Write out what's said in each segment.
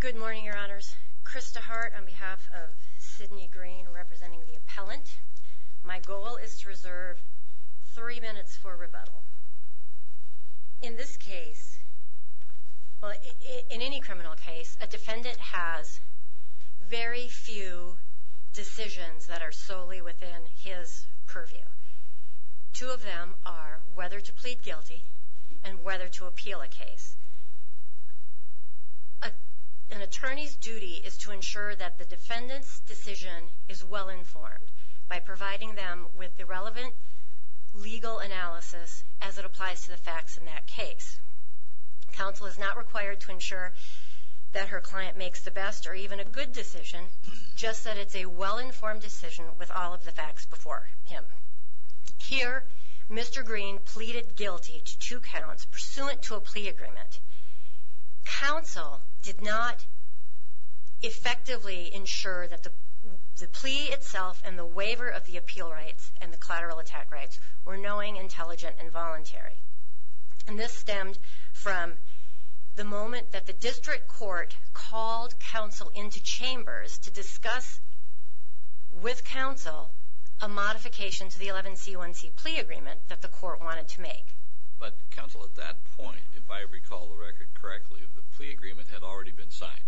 Good morning, Your Honors. Krista Hart on behalf of Sidney Greene representing the appellant. My goal is to reserve three minutes for rebuttal. In this case, in any criminal case, a defendant has very few decisions that are solely within his purview. Two of them are whether to plead An attorney's duty is to ensure that the defendant's decision is well-informed by providing them with the relevant legal analysis as it applies to the facts in that case. Counsel is not required to ensure that her client makes the best or even a good decision, just that it's a well-informed decision with all of the facts before him. Here, Mr. Greene pleaded guilty to two counts pursuant to a plea agreement. Counsel did not effectively ensure that the plea itself and the waiver of the appeal rights and the collateral attack rights were knowing, intelligent, and voluntary. And this stemmed from the moment that the district court called counsel into chambers to discuss with counsel a modification to the 11c1c plea agreement that the court wanted to make. But counsel, at that point, if I recall the record correctly, the plea agreement had already been signed.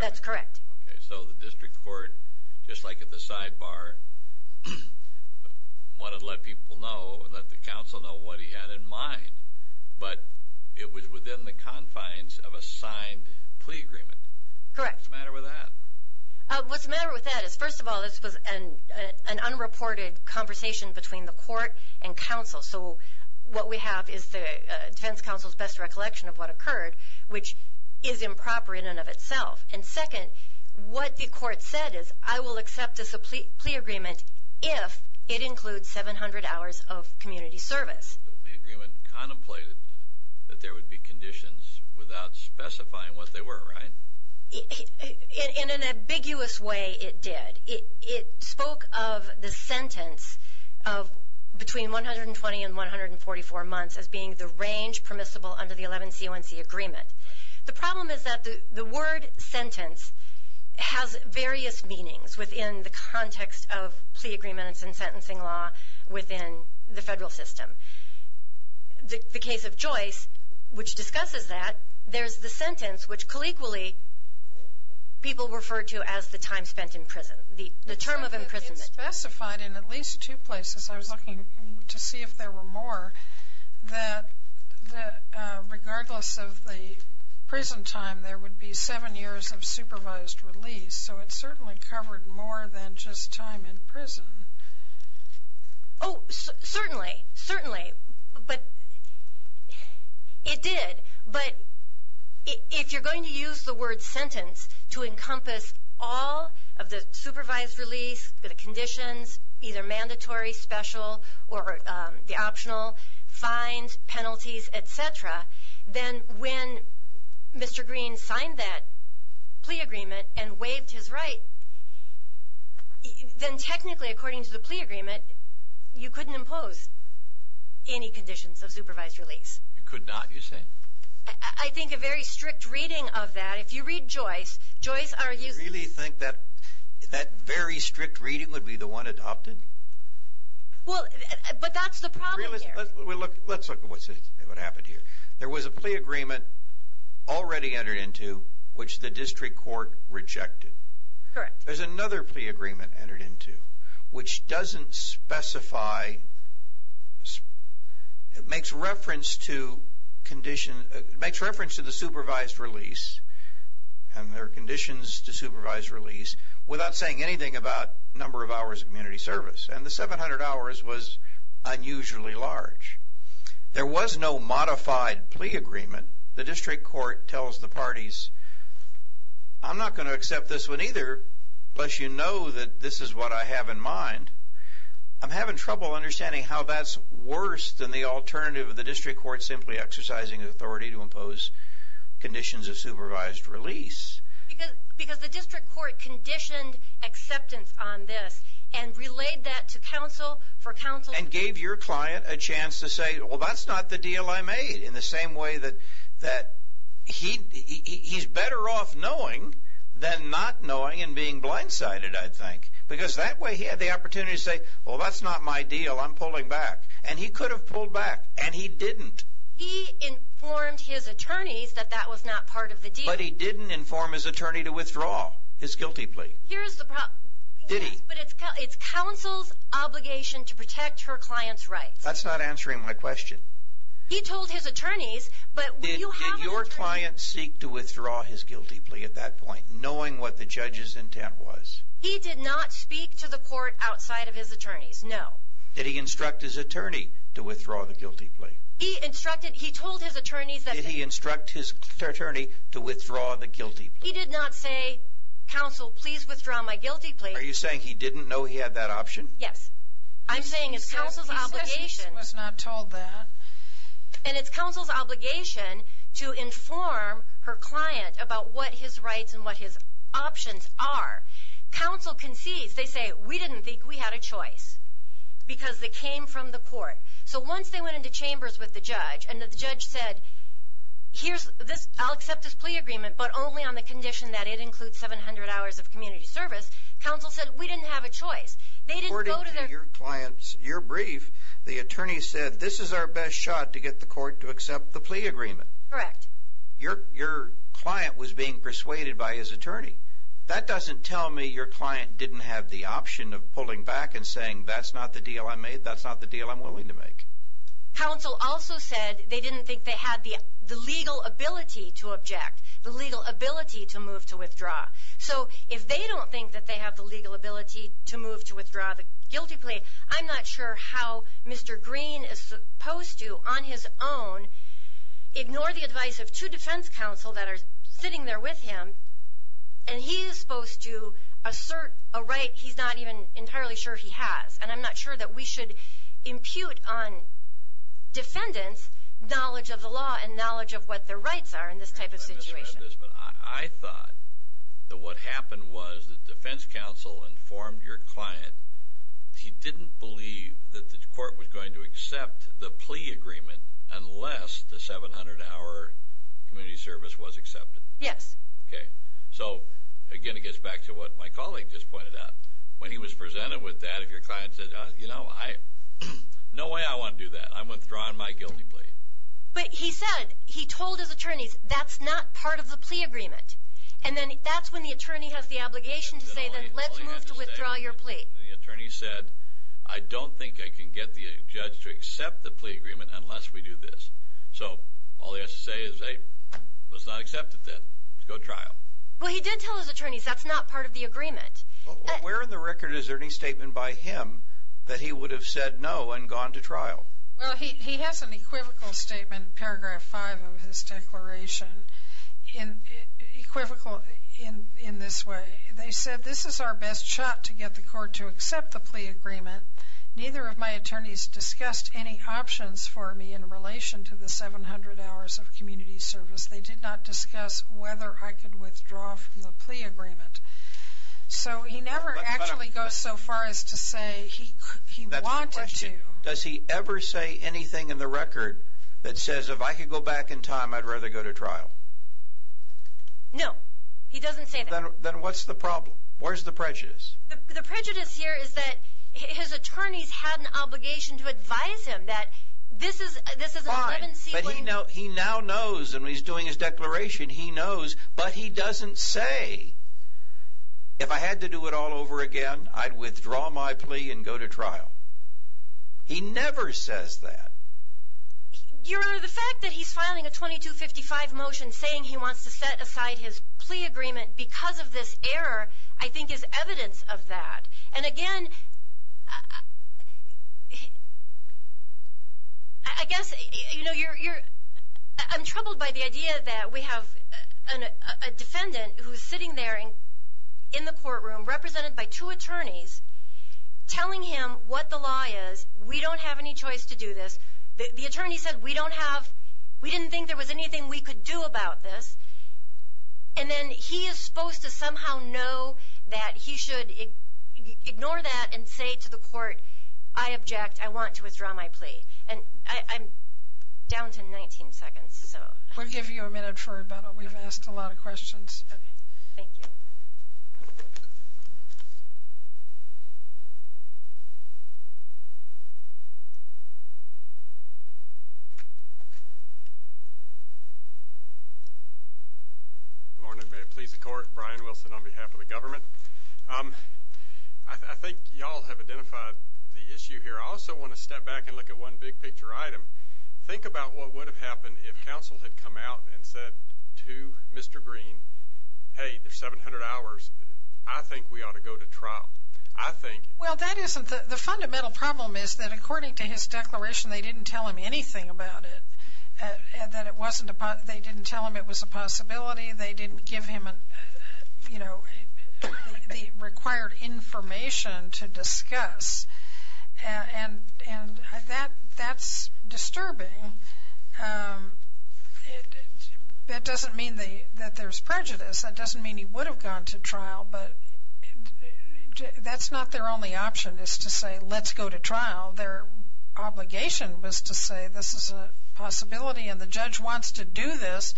That's correct. Okay, so the district court, just like at the sidebar, wanted to let people know and let the counsel know what he had in mind. But it was within the confines of a signed plea agreement. Correct. What's the matter with that? What's the matter with that is, first of all, this was an unreported conversation between the court and counsel. So what we have is the defense counsel's best recollection of what occurred, which is improper in and of itself. And second, what the court said is, I will accept this a plea agreement if it includes 700 hours of community service. The plea agreement contemplated that there would be conditions without specifying what they were, right? In an ambiguous way it did. It spoke of the sentence of between 120 and 144 months as being the range permissible under the 11c1c agreement. The problem is that the word sentence has various meanings within the context of plea agreements and sentencing law within the federal system. The case of Joyce, which discusses that, there's the sentence which colloquially people refer to as the time spent in prison, the term of imprisonment. It specified in at least two places, I was looking to see if there were more, that regardless of the prison time, there would be seven years of supervised release. So it if you're going to use the word sentence to encompass all of the supervised release, the conditions, either mandatory, special, or the optional, fines, penalties, etc., then when Mr. Green signed that plea agreement and waived his right, then technically according to the plea agreement, you couldn't impose any conditions of supervised release. You could not, you say? I think a very strict reading of that, if you read Joyce, Joyce argues... You really think that that very strict reading would be the one adopted? Well, but that's the problem here. Let's look at what happened here. There was a plea agreement already entered into which the district court rejected. Correct. There's another plea agreement entered into which doesn't specify, it makes reference to condition, it makes reference to the supervised release, and their conditions to supervised release, without saying anything about number of hours of community service. And the 700 hours was unusually large. There was no modified plea agreement. The district court tells the parties, I'm not going to accept this one either, unless you know that this is what I have in mind. I'm having trouble understanding how that's worse than the alternative of the district court simply exercising authority to impose conditions of supervised release. Because the district court conditioned acceptance on this and relayed that to counsel for counsel... And gave your client a chance to say, well, that's not the deal I made, in the same way that he's better off knowing than not knowing and being blindsided, I think. Because that way he had the opportunity to say, well, that's not my deal, I'm pulling back. And he could have pulled back. And he didn't. He informed his attorneys that that was not part of the deal. But he didn't inform his attorney to withdraw his guilty plea. Here's the problem. Did he? But it's counsel's obligation to protect her client's rights. That's not answering my question. He did not say, counsel, please withdraw my guilty plea. Are you saying he didn't know he had that option? Yes. I'm saying it's counsel's obligation. I was not told that. And it's counsel's obligation to inform her client about what his rights and what his options are. Counsel concedes, they say, we didn't think we had a choice. Because they came from the court. So once they went into chambers with the judge and the judge said, here's this, I'll accept this plea agreement, but only on the condition that it includes 700 hours of community service. Counsel said, we didn't have a choice. They didn't go to their... According to your client's, your brief, the attorney said, this is our best shot to get the court to accept the plea agreement. Correct. Your, your client was being persuaded by his attorney. That doesn't tell me your client didn't have the option of pulling back and saying, that's not the deal I made. That's not the deal I'm willing to make. Counsel also said they didn't think they had the, the legal ability to object, the legal ability to move to withdraw. So if they don't think that they have the legal ability to move to withdraw the guilty plea, I'm not sure how Mr. Green is supposed to, on his own, ignore the advice of two defense counsel that are sitting there with him. And he is supposed to assert a right he's not even entirely sure he has. And I'm not sure that we should impute on defendants' knowledge of the law and knowledge of what their rights are in this type of situation. I thought that what happened was that defense counsel informed your client, he didn't believe that the court was going to accept the plea agreement unless the 700-hour community service was accepted. Yes. Okay. So again, it gets back to what my colleague just pointed out. When he was presented with that, if your client said, you know, I, no way I want to do that. I'm withdrawing my guilty plea. But he said, he told his attorneys, that's not part of the plea agreement. And then that's when the attorney has the obligation to say, then let's move to withdraw your plea. The attorney said, I don't think I can get the judge to accept the plea agreement unless we do this. So all he has to say is, hey, let's not accept it then. Let's go to trial. Well, he did tell his attorneys that's not part of the agreement. Where in the record is there any statement by him that he would have said no and gone to trial? Well, he has an equivocal statement in paragraph five of his declaration. Equivocal in this way, they said, this is our best shot to get the court to accept the plea agreement. Neither of my attorneys discussed any options for me in relation to the 700 hours of community service. They did not discuss whether I could withdraw from the plea agreement. So he never actually goes so far as to say he wanted to. Does he ever say anything in the record that says, if I could go back in time, I'd rather go to trial? No, he doesn't say that. Then what's the problem? Where's the prejudice? The prejudice here is that his attorneys had an obligation to advise him that this is a- Fine, but he now knows and he's doing his declaration. He knows, but he doesn't say, if I had to do it all over again, I'd withdraw my plea and go to trial. He never says that. Your Honor, the fact that he's filing a 2255 motion saying he wants to set aside his plea agreement because of this error, I think is evidence of that. And again, I guess, you know, I'm troubled by the idea that we have a defendant who's sitting there in the courtroom represented by two attorneys telling him what the law is. We don't have any choice to do this. The attorney said, we don't have, we didn't think there was anything we could do about this. And then he is supposed to somehow know that he should ignore that and say to the court, I object, I want to withdraw my plea. And I'm down to 19 seconds, so. We'll give you a minute for about, we've asked a lot of questions. Okay, thank you. Good morning. May it please the court, Brian Wilson on behalf of the government. I think y'all have identified the issue here. I also want to step back and look at one big picture item. Think about what would have happened if counsel had come out and said to Mr. Green, hey, there's 700 hours. I think we ought to go to trial. I think. Well, that isn't, the fundamental problem is that according to his declaration, they didn't tell him anything about it. That it wasn't, they didn't tell him it was a possibility. They didn't give him, you know, the required information to discuss. And that's disturbing. Um, that doesn't mean that there's prejudice. That doesn't mean he would have gone to trial, but that's not their only option is to say, let's go to trial. Their obligation was to say, this is a possibility and the judge wants to do this.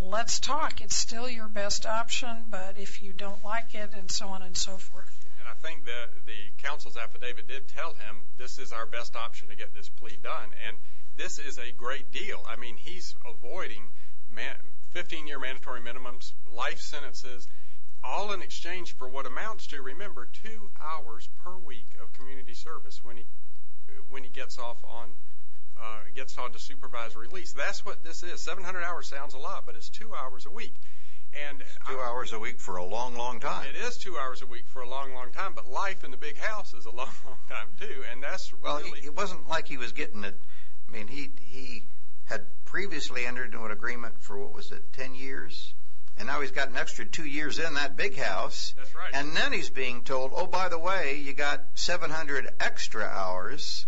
Let's talk. It's still your best option, but if you don't like it and so on and so forth. And I think that the counsel's affidavit did tell him this is our best option to get this plea done. And this is a great deal. I mean, he's avoiding 15-year mandatory minimums, life sentences, all in exchange for what amounts to, remember, two hours per week of community service when he gets off on, gets on to supervisory lease. That's what this is. 700 hours sounds a lot, but it's two hours a week. It's two hours a week for a long, long time. It is two hours a week for a long, long time, but life in the big house is a long, long time too. And that's really... It wasn't like he was getting it. I mean, he had previously entered into an agreement for, what was it, 10 years? And now he's got an extra two years in that big house. That's right. And then he's being told, oh, by the way, you got 700 extra hours.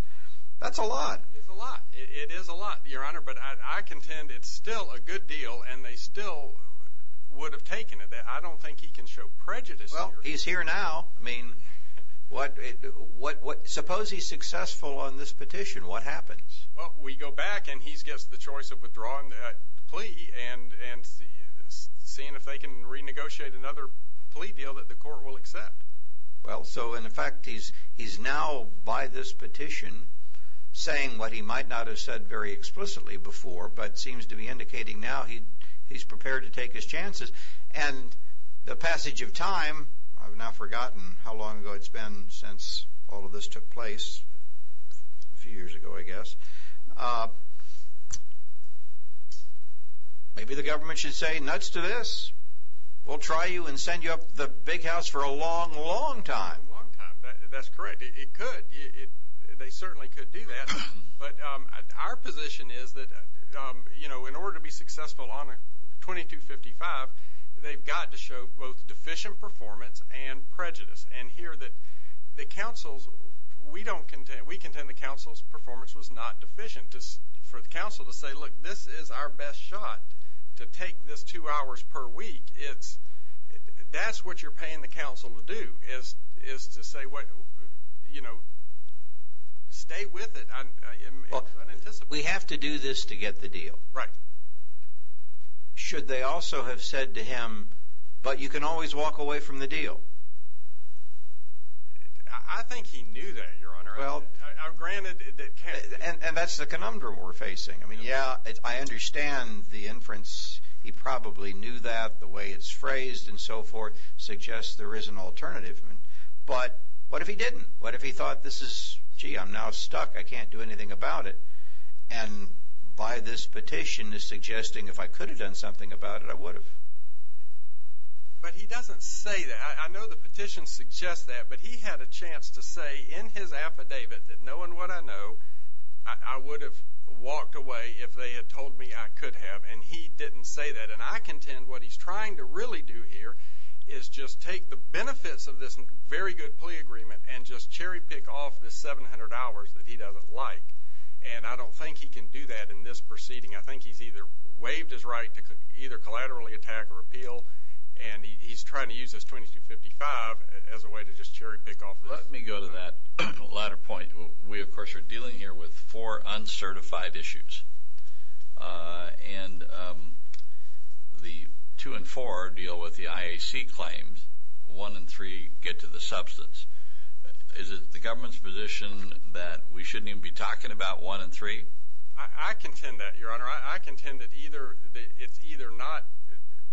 That's a lot. It's a lot. It is a lot, Your Honor, but I contend it's still a good deal and they still would have taken it. I don't think he can show prejudice here. Well, he's here now. I mean, suppose he's successful on this petition, what happens? Well, we go back and he gets the choice of withdrawing that plea and seeing if they can renegotiate another plea deal that the court will accept. Well, so in fact, he's now, by this petition, saying what he might not have said very explicitly before, but seems to be indicating now he's prepared to take his chances. And the passage of time, I've now forgotten how long ago it's been since all of this took place. A few years ago, I guess. Maybe the government should say, nuts to this. We'll try you and send you up the big house for a long, long time. Long time. That's correct. It could. They certainly could do that. But our position is that, you know, in order to be successful on 2255, they've got to show both deficient performance and prejudice. And here that the counsels, we don't contend, we contend the counsel's performance was not deficient for the counsel to say, look, this is our best shot to take this two hours per week. It's, that's what you're paying the counsel to do is to say what, you know, stay with it. Well, we have to do this to get the deal. Right. Should they also have said to him, but you can always walk away from the deal. I think he knew that your honor. Well, granted. And that's the conundrum we're facing. I mean, yeah, I understand the inference. He probably knew that the way it's phrased and so forth suggests there is an alternative. But what if he didn't? What if he thought this is, gee, I'm now stuck. I can't do anything about it. And by this petition is suggesting if I could have done something about it, I would have. But he doesn't say that. I know the petition suggests that, but he had a chance to say in his affidavit that knowing what I know, I would have walked away if they had told me I could have. And he didn't say that. And I contend what he's trying to really do here is just take the benefits of this very good plea agreement and just cherry pick off the 700 hours that he doesn't like. And I don't think he can do that in this proceeding. I think he's either waived his right to either collaterally attack or repeal. And he's trying to use this 2255 as a way to just cherry pick off. Let me go to that latter point. We, of course, are dealing here with four claims. One in three get to the substance. Is it the government's position that we shouldn't even be talking about one in three? I contend that, Your Honor. I contend that either it's either not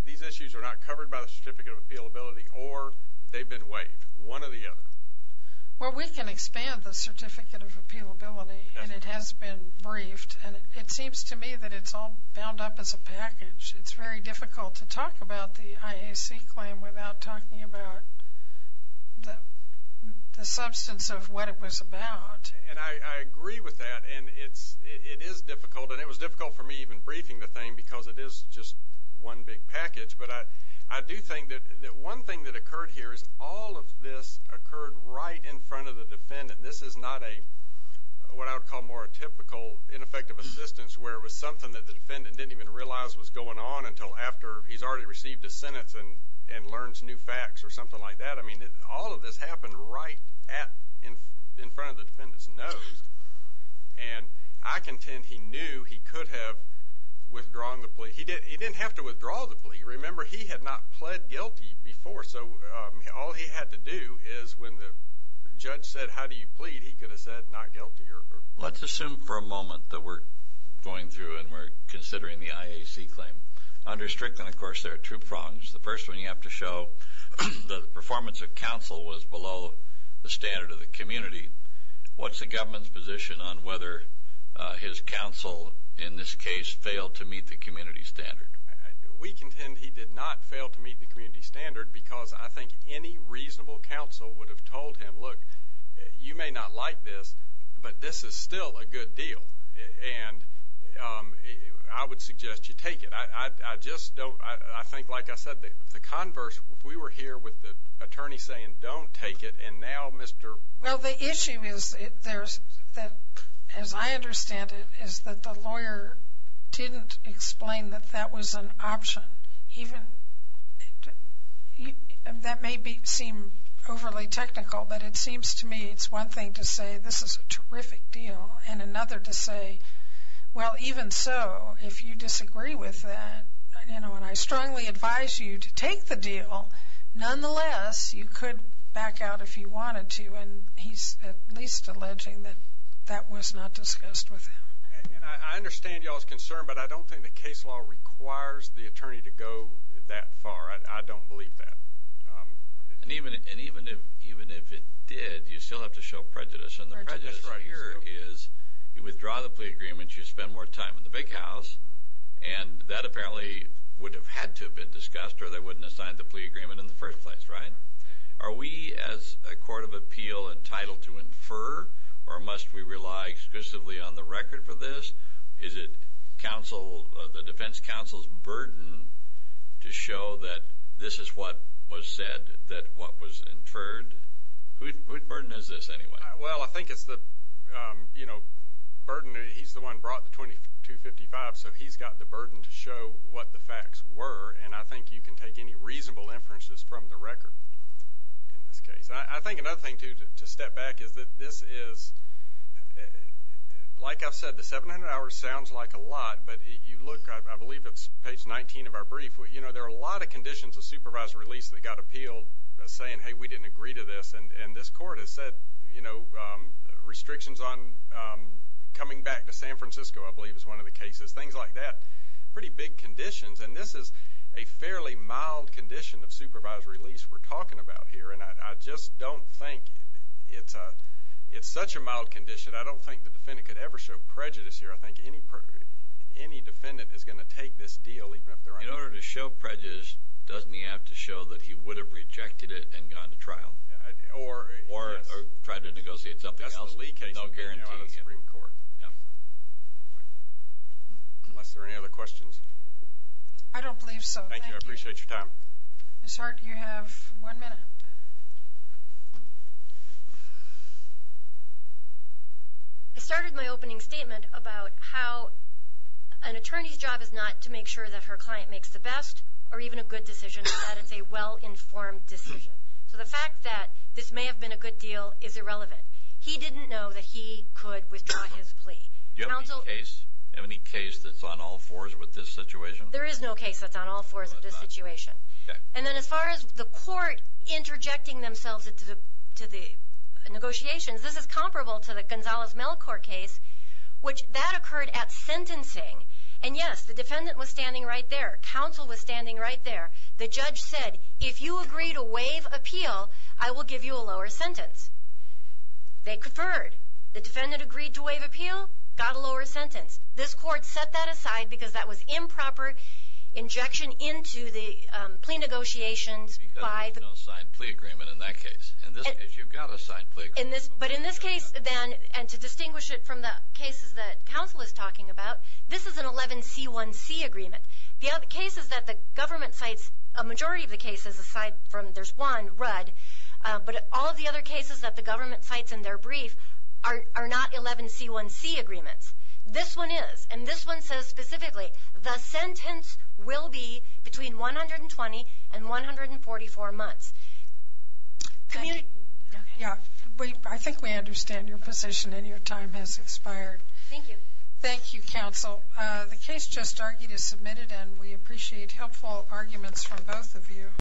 these issues are not covered by the Certificate of Appeal Ability or they've been waived, one or the other. Well, we can expand the Certificate of Appeal Ability, and it has been briefed. And it seems to me that it's all bound up as a package. It's very difficult to without talking about the substance of what it was about. And I agree with that. And it is difficult. And it was difficult for me even briefing the thing because it is just one big package. But I do think that one thing that occurred here is all of this occurred right in front of the defendant. This is not a what I would call more a typical ineffective assistance where it was something that the defendant didn't even realize was going on until after he's already received a sentence and learns new facts or something like that. I mean, all of this happened right in front of the defendant's nose. And I contend he knew he could have withdrawn the plea. He didn't have to withdraw the plea. Remember, he had not pled guilty before. So all he had to do is when the judge said, how do you plead? He could have said not guilty. Let's assume for a moment that we're going through and we're considering the IAC claim. Under Strickland, of course, there are two prongs. The first one you have to show the performance of counsel was below the standard of the community. What's the government's position on whether his counsel in this case failed to meet the community standard? We contend he did not fail to meet the community standard because I think any reasonable counsel would have told him, look, you may not like this, but this is still a good deal. And I would suggest you take it. I just don't. I think, like I said, the converse, if we were here with the attorney saying don't take it and now Mr. Well, the issue is there's that, as I understand it, is that the lawyer didn't explain that that was an option. Even that may be seem overly technical, but it seems to me it's one thing to say this is a terrific deal and another to say, well, even so, if you disagree with that, you know, and I strongly advise you to take the deal, nonetheless, you could back out if you wanted to. And he's at least alleging that that was not discussed with him. And I understand y'all's concern, but I don't think the case law requires the attorney to go that far. I don't believe that. And even if it did, you still have to show prejudice. And the prejudice here is you would have had to have been discussed or they wouldn't have signed the plea agreement in the first place, right? Are we as a court of appeal entitled to infer or must we rely exclusively on the record for this? Is it counsel, the defense counsel's burden to show that this is what was said, that what was inferred? Whose burden is this anyway? Well, I think it's the, you know, burden, he's the one brought the 2255, so he's got the burden to show what the facts were. And I think you can take any reasonable inferences from the record in this case. I think another thing, too, to step back is that this is, like I've said, the 700 hours sounds like a lot, but you look, I believe it's page 19 of our brief, you know, there are a lot of conditions of supervised release that got appealed saying, hey, we didn't agree to this. And this court has said, you know, restrictions on coming back to San Francisco, I believe is one of the cases, things like that, pretty big conditions. And this is a fairly mild condition of supervised release we're talking about here. And I just don't think it's such a mild condition. I don't think the defendant could ever show prejudice here. I think any defendant is going to take this deal even if they're... In order to show prejudice, doesn't he have to show that he would have rejected it and tried to negotiate something else? No guarantee. Unless there are any other questions. I don't believe so. Thank you. I appreciate your time. Ms. Hart, you have one minute. I started my opening statement about how an attorney's job is not to make sure that her client makes the best or even a good decision, but that it's a well-informed decision. So the he didn't know that he could withdraw his plea. Do you have any case that's on all fours with this situation? There is no case that's on all fours of this situation. And then as far as the court interjecting themselves into the negotiations, this is comparable to the Gonzalez-Melcore case, which that occurred at sentencing. And yes, the defendant was standing right there. Counsel was standing right there. The judge said, if you agree to waive appeal, I will give you a lower sentence. They conferred. The defendant agreed to waive appeal, got a lower sentence. This court set that aside because that was improper injection into the plea negotiations. Because there's no signed plea agreement in that case. In this case, you've got a signed plea agreement. But in this case, then, and to distinguish it from the cases that counsel is talking about, this is an 11C1C agreement. The other case is that the government cites a majority of the cases, aside from there's Rudd. But all of the other cases that the government cites in their brief are not 11C1C agreements. This one is. And this one says specifically, the sentence will be between 120 and 144 months. I think we understand your position and your time has expired. Thank you. Thank you, counsel. The case just argued is submitted and we appreciate helpful arguments from both of you.